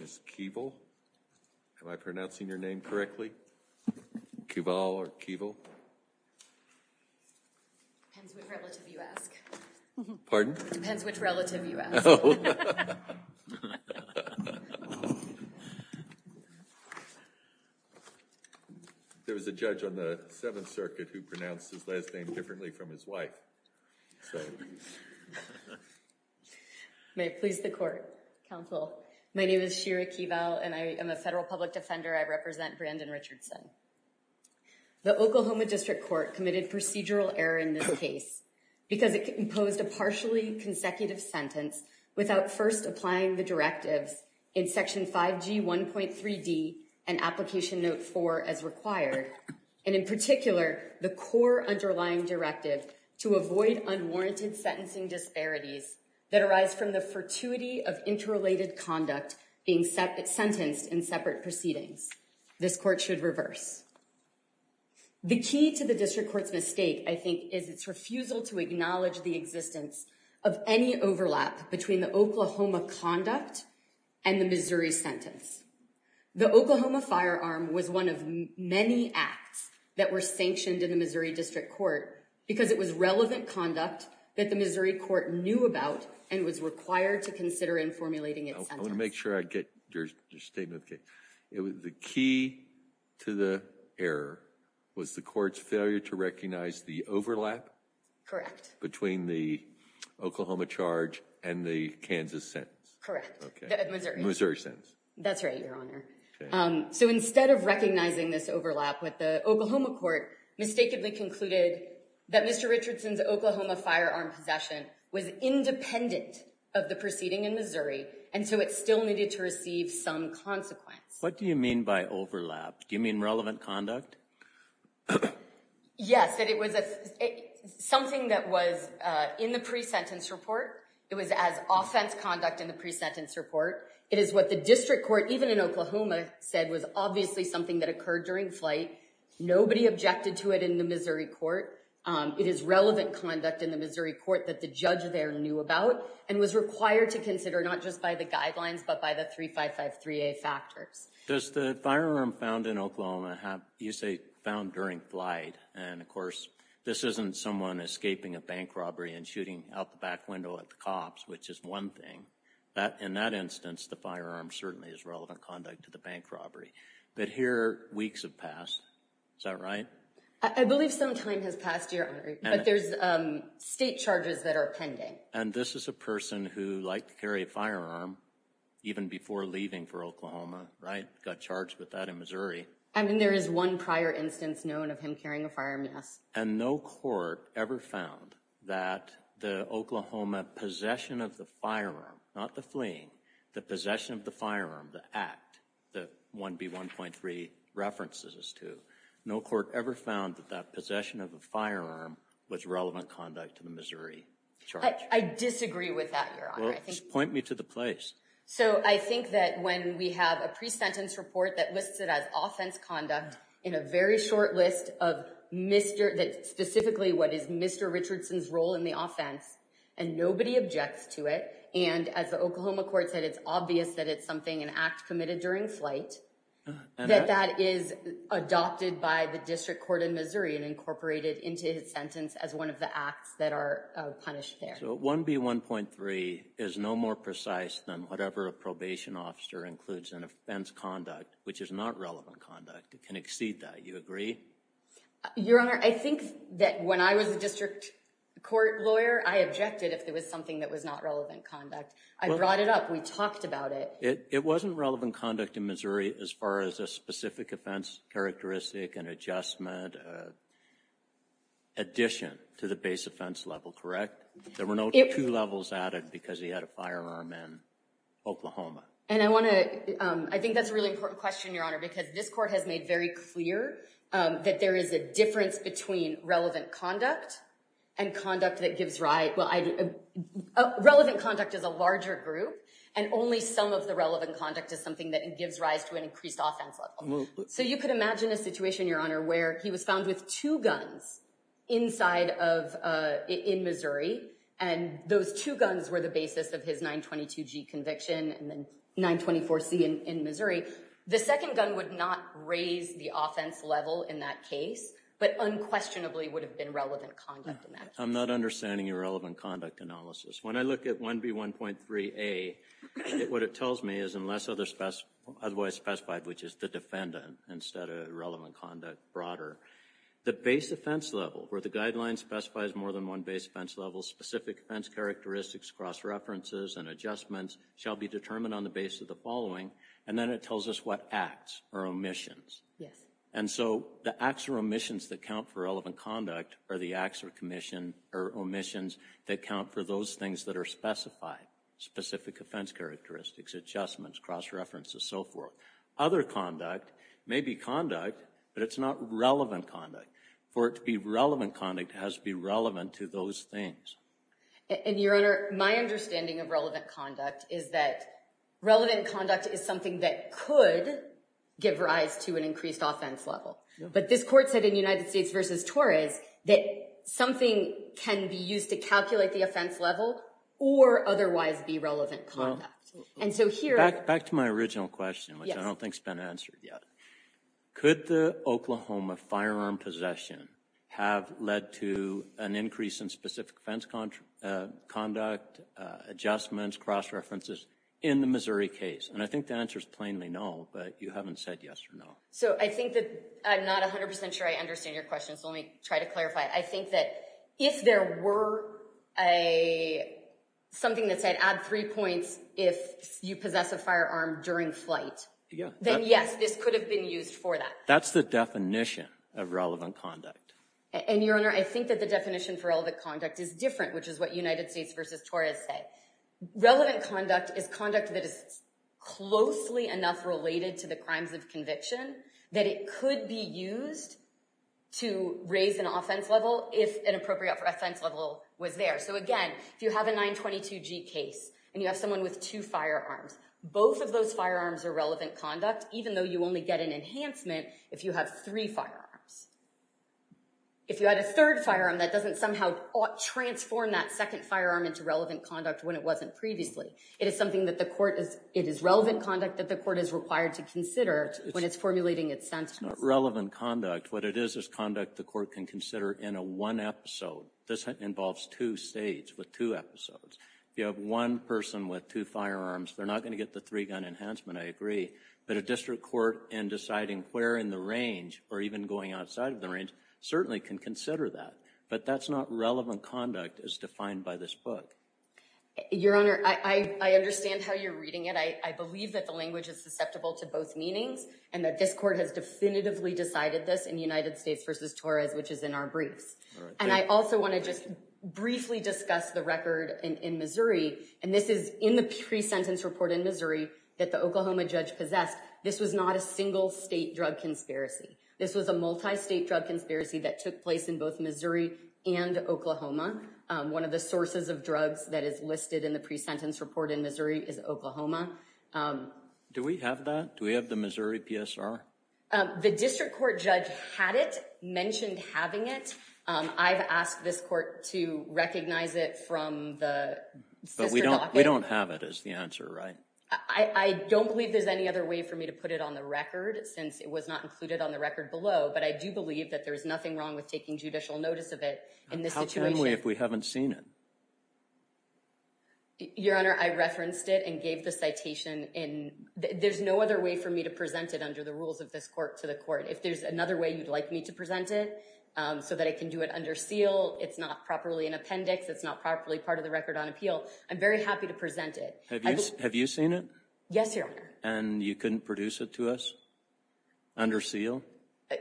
Ms. Keevil, am I pronouncing your name correctly? Depends which relative you ask. There was a judge on the 7th circuit who pronounced his last name differently from his wife. May it please the court, counsel. My name is Shira Keevil and I am a federal public defender. I represent Brandon Richardson. The Oklahoma District Court committed procedural error in this case because it imposed a partially consecutive sentence without first applying the directives in Section 5G 1.3D and Application Note 4 as required, and in particular, the core underlying directive to avoid unwarranted sentencing disparities that arise from the fortuity of interrelated conduct being sentenced in separate proceedings. This court should reverse. The key to the district court's mistake, I think, is its refusal to acknowledge the existence of any overlap between the Oklahoma conduct and the Missouri sentence. The Oklahoma firearm was one of many acts that were sanctioned in the Missouri District Court because it was relevant conduct that the Missouri court knew about and was required to consider in formulating its sentence. I want to make sure I get your statement. The key to the error was the court's failure to recognize the overlap between the Oklahoma charge and the Kansas sentence. Correct. Missouri sentence. That's right, Your Honor. So instead of recognizing this overlap with the Oklahoma court, mistakenly concluded that Mr. Richardson's Oklahoma firearm possession was independent of the proceeding in Missouri, and so it still needed to receive some consequence. What do you mean by overlap? Do you mean relevant conduct? Yes, that it was something that was in the pre-sentence report. It was as offense conduct in the pre-sentence report. It is what the district court, even in Oklahoma, said was obviously something that occurred during flight. Nobody objected to it in the Missouri court. It is relevant conduct in the Missouri court that the judge there knew about and was required to consider not just by the guidelines but by the 3553A factors. Does the firearm found in Oklahoma have, you say, found during flight? And, of course, this isn't someone escaping a bank robbery and shooting out the back window at the cops, which is one thing. In that instance, the firearm certainly is relevant conduct to the bank robbery. But here, weeks have passed. Is that right? I believe some time has passed, Your Honor. But there's state charges that are pending. And this is a person who liked to carry a firearm even before leaving for Oklahoma, right? Got charged with that in Missouri. I mean, there is one prior instance known of him carrying a firearm, yes. And no court ever found that the Oklahoma possession of the firearm, not the fleeing, the possession of the firearm, the act that 1B1.3 references to, no court ever found that that possession of the firearm was relevant conduct to the Missouri charge. I disagree with that, Your Honor. Point me to the place. So I think that when we have a pre-sentence report that lists it as offense conduct in a very short list of specifically what is Mr. Richardson's role in the offense, and nobody objects to it, and as the Oklahoma court said, it's obvious that it's something, an act committed during flight, that that is adopted by the district court in Missouri and incorporated into his sentence as one of the acts that are punished there. So 1B1.3 is no more precise than whatever a probation officer includes in offense conduct, which is not relevant conduct. It can exceed that. You agree? Your Honor, I think that when I was a district court lawyer, I objected if it was something that was not relevant conduct. I brought it up. We talked about it. It wasn't relevant conduct in Missouri as far as a specific offense characteristic, an adjustment, addition to the base offense level, correct? There were no two levels added because he had a firearm in Oklahoma. And I want to – I think that's a really important question, Your Honor, because this court has made very clear that there is a difference between relevant conduct and conduct that gives rise – well, relevant conduct is a larger group, and only some of the relevant conduct is something that gives rise to an increased offense level. So you could imagine a situation, Your Honor, where he was found with two guns inside of – in Missouri, and those two guns were the basis of his 922G conviction and then 924C in Missouri. The second gun would not raise the offense level in that case, but unquestionably would have been relevant conduct in that case. I'm not understanding your relevant conduct analysis. When I look at 1B1.3A, what it tells me is unless otherwise specified, which is the defendant instead of relevant conduct broader, the base offense level, where the guideline specifies more than one base offense level, specific offense characteristics, cross-references, and adjustments shall be determined on the basis of the following. And then it tells us what acts or omissions. Yes. And so the acts or omissions that count for relevant conduct are the acts or omissions that count for those things that are specified, specific offense characteristics, adjustments, cross-references, so forth. Other conduct may be conduct, but it's not relevant conduct. For it to be relevant conduct, it has to be relevant to those things. And, Your Honor, my understanding of relevant conduct is that relevant conduct is something that could give rise to an increased offense level. But this court said in United States v. Torres that something can be used to calculate the offense level or otherwise be relevant conduct. Back to my original question, which I don't think has been answered yet. Could the Oklahoma firearm possession have led to an increase in specific offense conduct, adjustments, cross-references in the Missouri case? And I think the answer is plainly no, but you haven't said yes or no. So I think that I'm not 100% sure I understand your question, so let me try to clarify. I think that if there were something that said add three points if you possess a firearm during flight, then yes, this could have been used for that. That's the definition of relevant conduct. And, Your Honor, I think that the definition for relevant conduct is different, which is what United States v. Torres said. Relevant conduct is conduct that is closely enough related to the crimes of conviction that it could be used to raise an offense level if an appropriate offense level was there. So, again, if you have a 922G case and you have someone with two firearms, both of those firearms are relevant conduct, even though you only get an enhancement if you have three firearms. If you had a third firearm, that doesn't somehow transform that second firearm into relevant conduct when it wasn't previously. It is relevant conduct that the court is required to consider when it's formulating its sentence. It's not relevant conduct. What it is is conduct the court can consider in a one episode. This involves two states with two episodes. If you have one person with two firearms, they're not going to get the three-gun enhancement, I agree. But a district court in deciding where in the range or even going outside of the range certainly can consider that. But that's not relevant conduct as defined by this book. Your Honor, I understand how you're reading it. I believe that the language is susceptible to both meanings and that this court has definitively decided this in United States v. Torres, which is in our briefs. And I also want to just briefly discuss the record in Missouri, and this is in the pre-sentence report in Missouri that the Oklahoma judge possessed. This was not a single state drug conspiracy. This was a multi-state drug conspiracy that took place in both Missouri and Oklahoma. One of the sources of drugs that is listed in the pre-sentence report in Missouri is Oklahoma. Do we have that? Do we have the Missouri PSR? The district court judge had it, mentioned having it. I've asked this court to recognize it from the sister docket. But we don't have it as the answer, right? I don't believe there's any other way for me to put it on the record since it was not included on the record below. But I do believe that there is nothing wrong with taking judicial notice of it in this situation. How can we if we haven't seen it? Your Honor, I referenced it and gave the citation. There's no other way for me to present it under the rules of this court to the court. If there's another way you'd like me to present it so that I can do it under seal, it's not properly an appendix, it's not properly part of the record on appeal, I'm very happy to present it. Have you seen it? Yes, Your Honor. And you couldn't produce it to us under seal?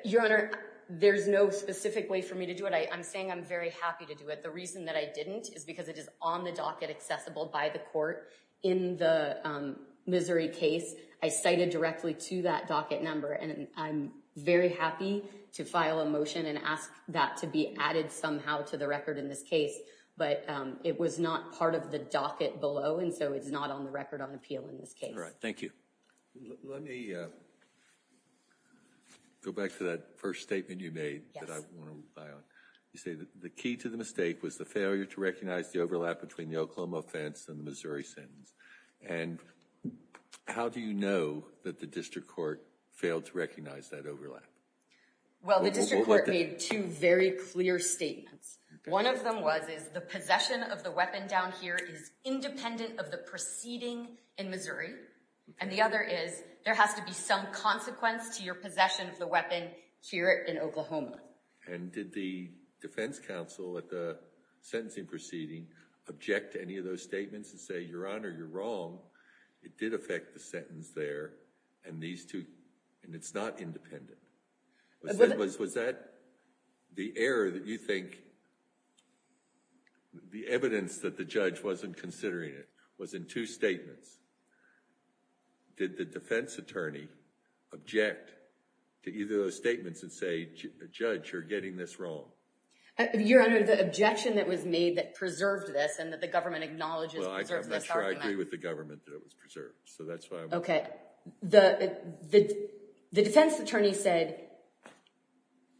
Your Honor, there's no specific way for me to do it. I'm saying I'm very happy to do it. The reason that I didn't is because it is on the docket accessible by the court. In the Missouri case, I cited directly to that docket number. And I'm very happy to file a motion and ask that to be added somehow to the record in this case. But it was not part of the docket below, and so it's not on the record on appeal in this case. All right, thank you. Let me go back to that first statement you made that I want to rely on. You say that the key to the mistake was the failure to recognize the overlap between the Oklahoma offense and the Missouri sentence. And how do you know that the district court failed to recognize that overlap? Well, the district court made two very clear statements. One of them was is the possession of the weapon down here is independent of the proceeding in Missouri. And the other is there has to be some consequence to your possession of the weapon here in Oklahoma. And did the defense counsel at the sentencing proceeding object to any of those statements and say, Your Honor, you're wrong. It did affect the sentence there, and these two... and it's not independent. Was that the error that you think... the evidence that the judge wasn't considering it was in two statements? Did the defense attorney object to either of those statements and say, Judge, you're getting this wrong? Your Honor, the objection that was made that preserved this and that the government acknowledges... Well, I'm not sure I agree with the government that it was preserved, so that's why I'm... The defense attorney said,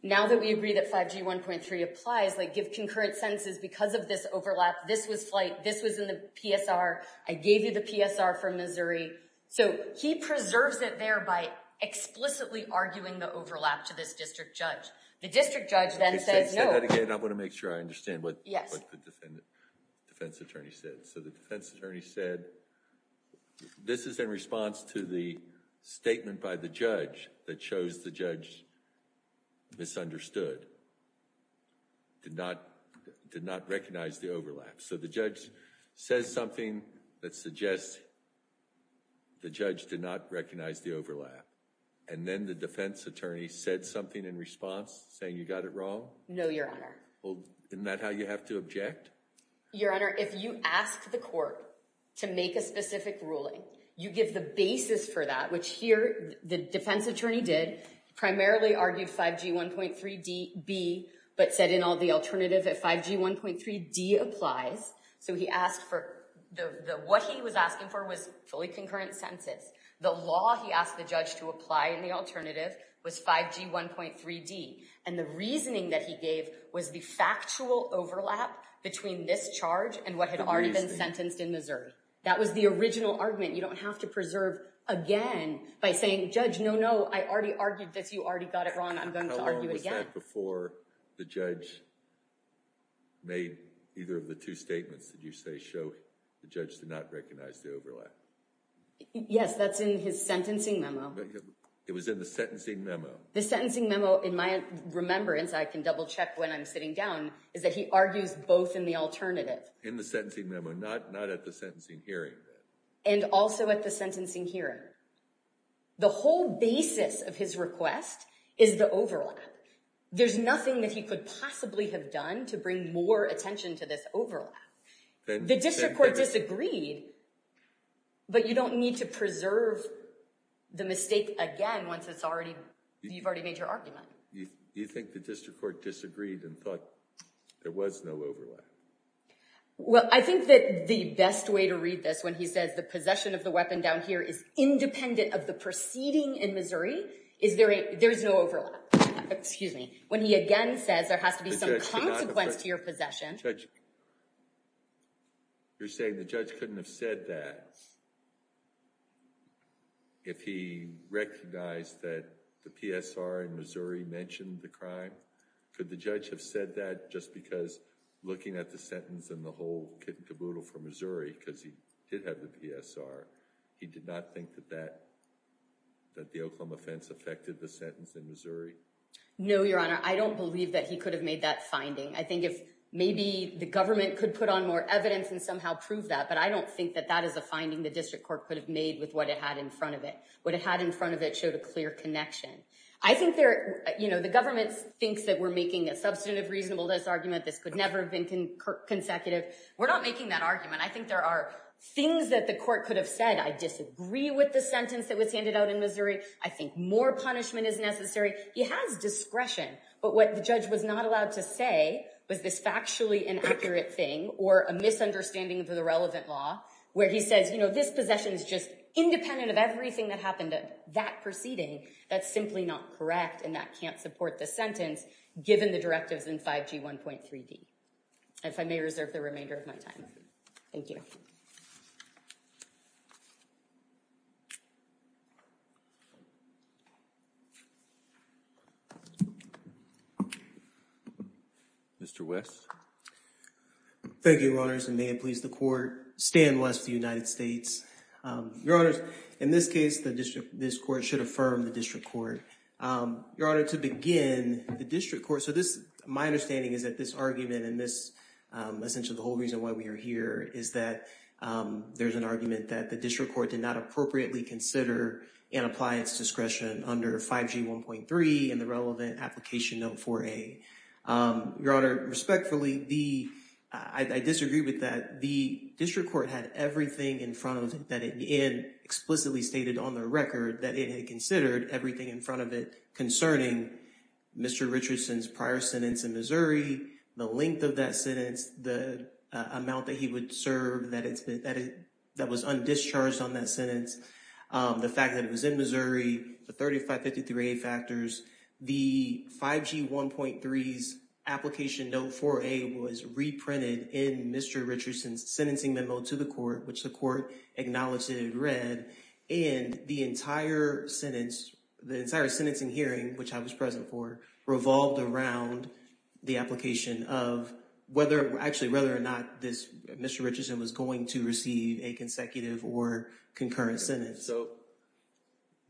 now that we agree that 5G 1.3 applies, like, give concurrent sentences because of this overlap. This was slight. This was in the PSR. I gave you the PSR from Missouri. So, he preserves it there by explicitly arguing the overlap to this district judge. The district judge then says, no... Let me say that again. I want to make sure I understand what the defense attorney said. So, the defense attorney said, this is in response to the statement by the judge that shows the judge misunderstood, did not recognize the overlap. So, the judge says something that suggests the judge did not recognize the overlap. And then the defense attorney said something in response, saying you got it wrong? No, Your Honor. Well, isn't that how you have to object? Your Honor, if you ask the court to make a specific ruling, you give the basis for that, which here the defense attorney did. He primarily argued 5G 1.3b, but said in all the alternative that 5G 1.3d applies. So, he asked for... what he was asking for was fully concurrent sentences. The law he asked the judge to apply in the alternative was 5G 1.3d. And the reasoning that he gave was the factual overlap between this charge and what had already been sentenced in Missouri. That was the original argument. You don't have to preserve again by saying, judge, no, no, I already argued this. You already got it wrong. I'm going to argue it again. How long was that before the judge made either of the two statements that you say show the judge did not recognize the overlap? Yes, that's in his sentencing memo. It was in the sentencing memo. The sentencing memo, in my remembrance, I can double check when I'm sitting down, is that he argues both in the alternative. In the sentencing memo, not at the sentencing hearing. And also at the sentencing hearing. The whole basis of his request is the overlap. There's nothing that he could possibly have done to bring more attention to this overlap. The district court disagreed, but you don't need to preserve the mistake again once it's already... you've already made your argument. You think the district court disagreed and thought there was no overlap? Well, I think that the best way to read this when he says the possession of the weapon down here is independent of the proceeding in Missouri, there's no overlap. Excuse me. When he again says there has to be some consequence to your possession... Judge, you're saying the judge couldn't have said that if he recognized that the PSR in Missouri mentioned the crime? Could the judge have said that just because looking at the sentence and the whole kit and caboodle for Missouri, because he did have the PSR. He did not think that that... that the Oklahoma offense affected the sentence in Missouri? No, Your Honor. I don't believe that he could have made that finding. I think if... maybe the government could put on more evidence and somehow prove that. But, I don't think that that is a finding the district court could have made with what it had in front of it. What it had in front of it showed a clear connection. I think there... you know, the government thinks that we're making a substantive reasonable disargument. This could never have been consecutive. We're not making that argument. I think there are things that the court could have said. I disagree with the sentence that was handed out in Missouri. I think more punishment is necessary. He has discretion. But, what the judge was not allowed to say was this factually inaccurate thing or a misunderstanding of the relevant law where he says, you know, this possession is just independent of everything that happened at that proceeding. That's simply not correct and that can't support the sentence given the directives in 5G 1.3D. If I may reserve the remainder of my time. Thank you. Mr. West. Thank you, Your Honors. And may it please the court, stand less of the United States. Your Honors, in this case, the district... this court should affirm the district court. Your Honor, to begin, the district court... so this... my understanding is that this argument and this... essentially the whole reason why we are here is that there's an argument that the district court did not appropriately consider an appliance discretion under 5G 1.3 and the relevant application note 4A. Your Honor, respectfully, the... I disagree with that. The district court had everything in front of... that it... explicitly stated on the record that it had considered everything in front of it concerning Mr. Richardson's prior sentence in Missouri, the length of that sentence, the amount that he would serve that was undischarged on that sentence, the fact that it was in Missouri, the 3553A factors. The 5G 1.3's application note 4A was reprinted in Mr. Richardson's sentencing memo to the court, which the court acknowledged it had read, and the entire sentence... the entire sentencing hearing, which I was present for, revolved around the application of whether... actually, whether or not this... Mr. Richardson was going to receive a consecutive or concurrent sentence.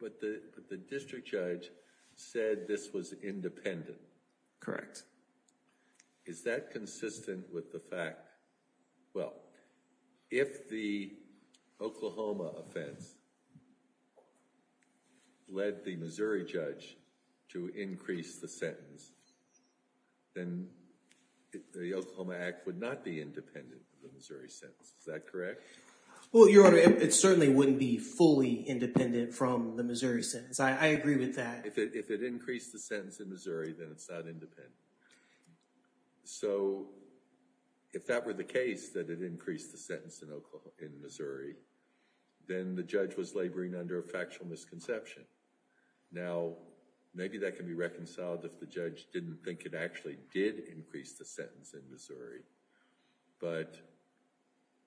But the district judge said this was independent. Correct. Is that consistent with the fact... well, if the Oklahoma offense led the Missouri judge to increase the sentence, then the Oklahoma Act would not be independent of the Missouri sentence. Is that correct? Well, Your Honor, it certainly wouldn't be fully independent from the Missouri sentence. I agree with that. If it increased the sentence in Missouri, then it's not independent. So, if that were the case, that it increased the sentence in Missouri, then the judge was laboring under a factual misconception. Now, maybe that can be reconciled if the judge didn't think it actually did increase the sentence in Missouri. But,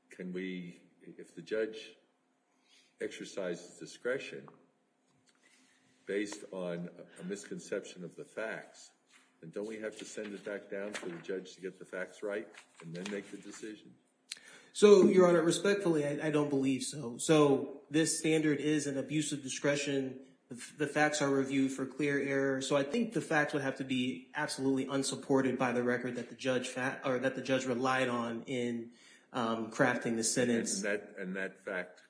can we... if the judge exercises discretion, based on a misconception of the facts, then don't we have to send it back down to the judge to get the facts right, and then make the decision? So, Your Honor, respectfully, I don't believe so. So, this standard is an abuse of discretion. The facts are reviewed for clear error. So, I think the facts would have to be absolutely unsupported by the record that the judge relied on in crafting the sentence. And that fact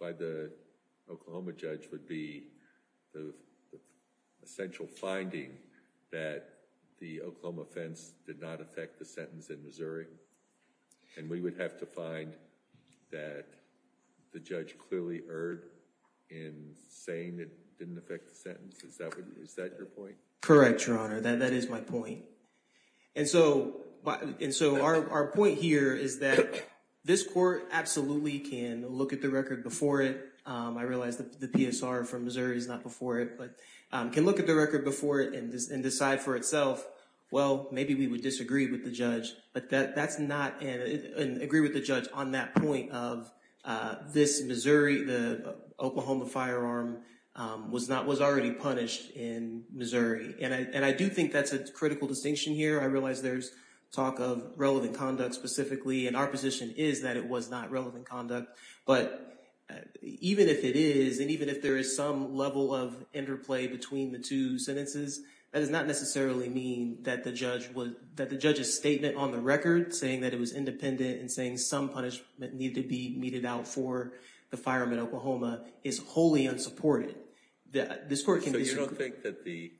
by the Oklahoma judge would be the essential finding that the Oklahoma offense did not affect the sentence in Missouri. And we would have to find that the judge clearly erred in saying it didn't affect the sentence. Is that your point? Correct, Your Honor. That is my point. And so, our point here is that this court absolutely can look at the record before it. I realize that the PSR for Missouri is not before it, but can look at the record before it and decide for itself, well, maybe we would disagree with the judge. But that's not—and agree with the judge on that point of this Missouri—the Oklahoma firearm was already punished in Missouri. And I do think that's a critical distinction here. I realize there's talk of relevant conduct specifically, and our position is that it was not relevant conduct. But even if it is, and even if there is some level of interplay between the two sentences, that does not necessarily mean that the judge's statement on the record, saying that it was independent and saying some punishment needed to be meted out for the firearm in Oklahoma, is wholly unsupported. This court can disagree. So you don't think that the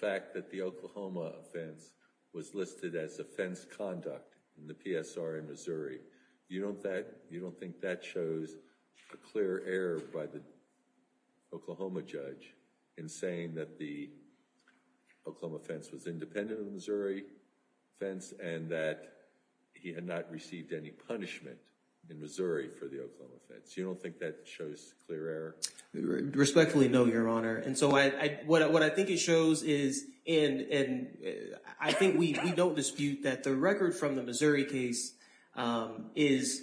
fact that the Oklahoma offense was listed as offense conduct in the PSR in Missouri, you don't think that shows a clear error by the Oklahoma judge in saying that the Oklahoma offense was independent of the Missouri offense and that he had not received any punishment in Missouri for the Oklahoma offense? You don't think that shows clear error? Respectfully, no, Your Honor. And so what I think it shows is—and I think we don't dispute that the record from the Missouri case is,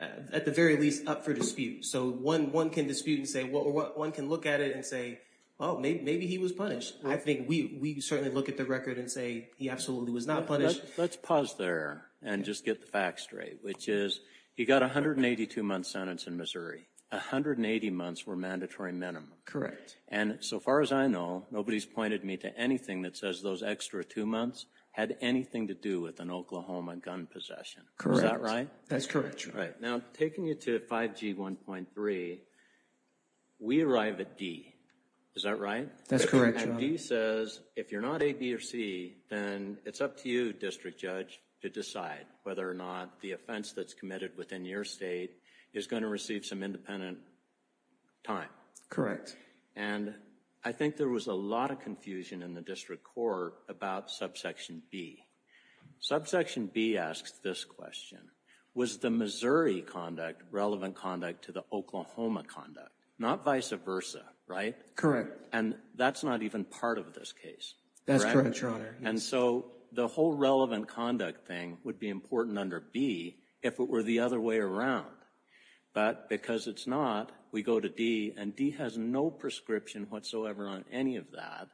at the very least, up for dispute. So one can dispute and say—one can look at it and say, well, maybe he was punished. I think we certainly look at the record and say he absolutely was not punished. Let's pause there and just get the facts straight, which is he got a 182-month sentence in Missouri. 180 months were mandatory minimum. Correct. And so far as I know, nobody's pointed me to anything that says those extra two months had anything to do with an Oklahoma gun possession. Correct. Is that right? That's correct, Your Honor. All right. Now, taking it to 5G1.3, we arrive at D. Is that right? That's correct, Your Honor. And D says, if you're not A, B, or C, then it's up to you, District Judge, to decide whether or not the offense that's committed within your state is going to receive some independent time. Correct. And I think there was a lot of confusion in the district court about subsection B. Subsection B asks this question. Was the Missouri conduct relevant conduct to the Oklahoma conduct? Not vice versa, right? Correct. And that's not even part of this case. That's correct, Your Honor. And so the whole relevant conduct thing would be important under B if it were the other way around. But because it's not, we go to D, and D has no prescription whatsoever on any of that,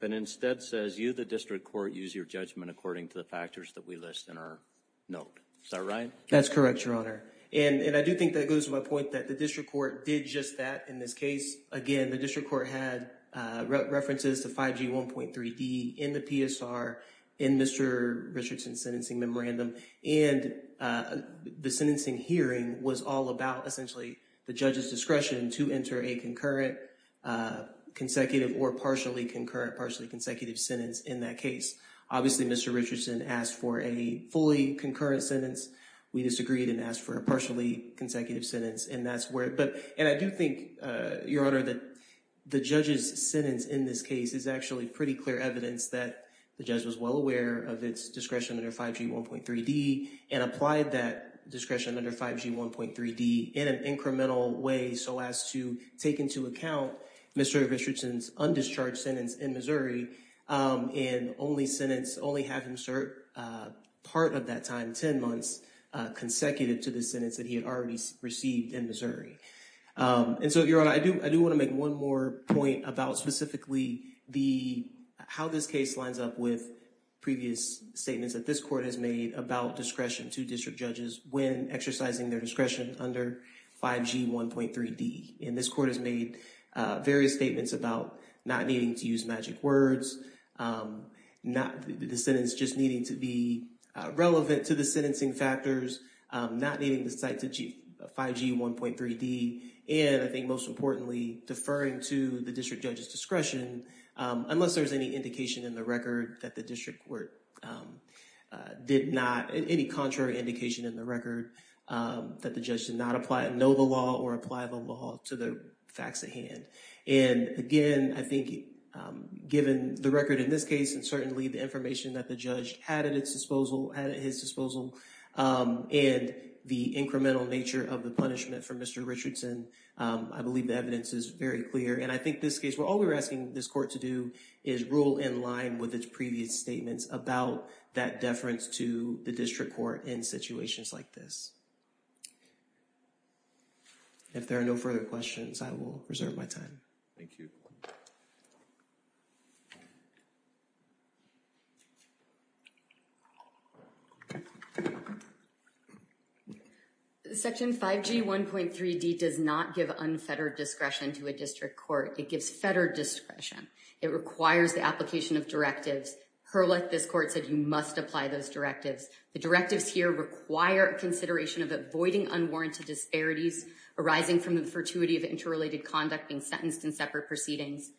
but instead says, you, the district court, use your judgment according to the factors that we list in our note. Is that right? That's correct, Your Honor. And I do think that goes to my point that the district court did just that in this case. Again, the district court had references to 5G1.3D in the PSR, in Mr. Richardson's sentencing memorandum, and the sentencing hearing was all about essentially the judge's discretion to enter a concurrent, consecutive, or partially concurrent, partially consecutive sentence in that case. Obviously, Mr. Richardson asked for a fully concurrent sentence. We disagreed and asked for a partially consecutive sentence, and that's where, but, and I do think, Your Honor, that the judge's sentence in this case is actually pretty clear evidence that the judge was well aware of its discretion under 5G1.3D and applied that discretion under 5G1.3D in an incremental way so as to take into account Mr. Richardson's undischarged sentence in Missouri and only sentence, only have him serve part of that time, 10 months, consecutive to the sentence that he had already received in Missouri. And so, Your Honor, I do want to make one more point about specifically the, how this case lines up with previous statements that this court has made about discretion to district judges when exercising their discretion under 5G1.3D. And this court has made various statements about not needing to use magic words, not, the sentence just needing to be relevant to the sentencing factors, not needing to cite 5G1.3D, and I think most importantly, deferring to the district judge's discretion unless there's any indication in the record that the district court did not, any contrary indication in the record that the judge did not apply, did not know the law or apply the law to the facts at hand. And again, I think, given the record in this case and certainly the information that the judge had at its disposal, had at his disposal, and the incremental nature of the punishment for Mr. Richardson, I believe the evidence is very clear. And I think this case, all we're asking this court to do is rule in line with its previous statements about that deference to the district court in situations like this. If there are no further questions, I will reserve my time. Thank you. Section 5G1.3D does not give unfettered discretion to a district court. It gives fettered discretion. It requires the application of directives. Hurlick, this court, said you must apply those directives. The directives here require consideration of avoiding unwarranted disparities arising from the fortuity of interrelated conduct being sentenced in separate proceedings.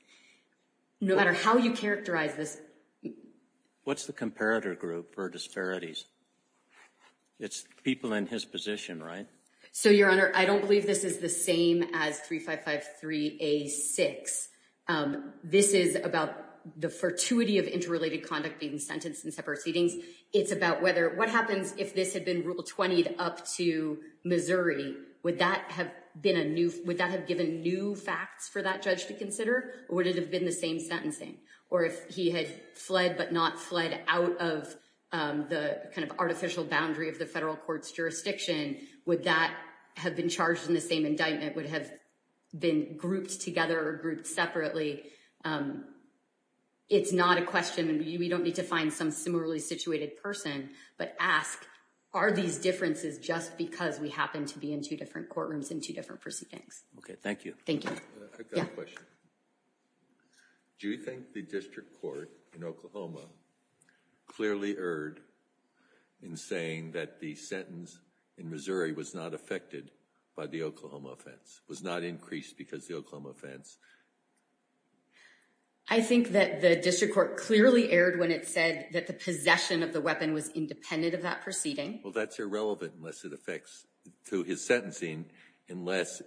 No matter how you characterize this. What's the comparator group for disparities? It's people in his position, right? So, Your Honor, I don't believe this is the same as 3553A6. This is about the fortuity of interrelated conduct being sentenced in separate proceedings. It's about whether what happens if this had been rule 20 up to Missouri. Would that have given new facts for that judge to consider? Or would it have been the same sentencing? Or if he had fled but not fled out of the kind of artificial boundary of the federal court's jurisdiction, would that have been charged in the same indictment? Would it have been grouped together or grouped separately? It's not a question. We don't need to find some similarly situated person, but ask, are these differences just because we happen to be in two different courtrooms in two different proceedings? Okay, thank you. Thank you. I've got a question. Do you think the district court in Oklahoma clearly erred in saying that the sentence in Missouri was not affected by the Oklahoma offense, was not increased because the Oklahoma offense? I think that the district court clearly erred when it said that the possession of the weapon was independent of that proceeding. Well, that's irrelevant unless it affects to his sentencing, unless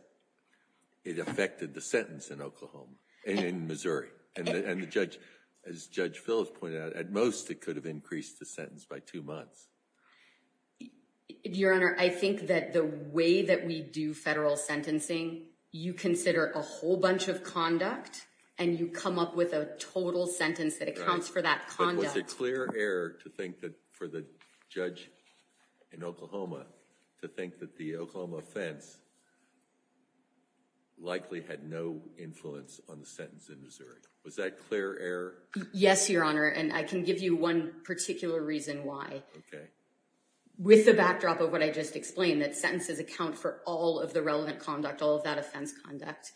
it affected the sentence in Oklahoma and in Missouri. And the judge, as Judge Phillips pointed out, at most, it could have increased the sentence by two months. Your Honor, I think that the way that we do federal sentencing, you consider a whole bunch of conduct and you come up with a total sentence that accounts for that conduct. Was it clear error to think that for the judge in Oklahoma to think that the Oklahoma offense likely had no influence on the sentence in Missouri? Was that clear error? Yes, Your Honor. And I can give you one particular reason why. Okay. With the backdrop of what I just explained, that sentences account for all of the relevant conduct, all of that offense conduct.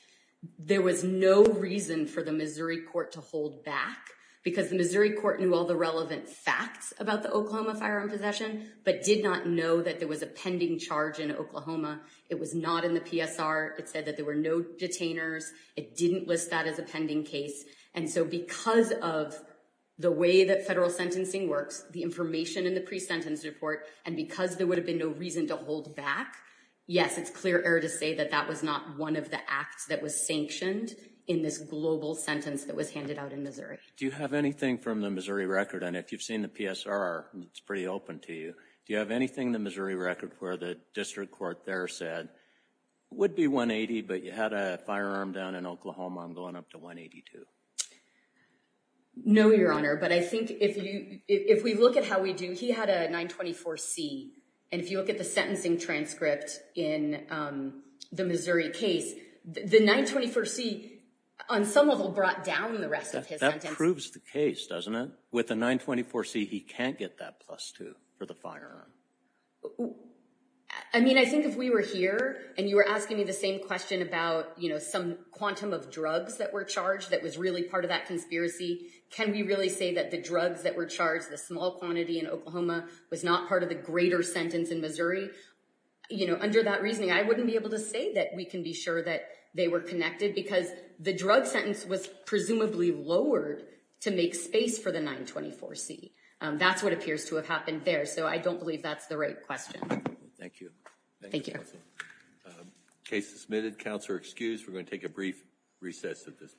There was no reason for the Missouri court to hold back because the Missouri court knew all the relevant facts about the Oklahoma firearm possession, but did not know that there was a pending charge in Oklahoma. It was not in the PSR. It said that there were no detainers. It didn't list that as a pending case. And so because of the way that federal sentencing works, the information in the pre-sentence report, and because there would have been no reason to hold back, yes, it's clear error to say that that was not one of the acts that was sanctioned in this global sentence that was handed out in Missouri. Do you have anything from the Missouri record? And if you've seen the PSR, it's pretty open to you. Do you have anything in the Missouri record where the district court there said, would be 180, but you had a firearm down in Oklahoma, I'm going up to 182? No, Your Honor, but I think if we look at how we do, he had a 924C. And if you look at the sentencing transcript in the Missouri case, the 924C on some level brought down the rest of his sentence. That proves the case, doesn't it? With a 924C, he can't get that plus two for the firearm. I mean, I think if we were here and you were asking me the same question about some quantum of drugs that were charged that was really part of that conspiracy, can we really say that the drugs that were charged, the small quantity in Oklahoma, was not part of the greater sentence in Missouri? Under that reasoning, I wouldn't be able to say that we can be sure that they were connected because the drug sentence was presumably lowered to make space for the 924C. That's what appears to have happened there. So I don't believe that's the right question. Thank you. Thank you. Case is submitted. Counselor excused. We're going to take a brief recess at this point.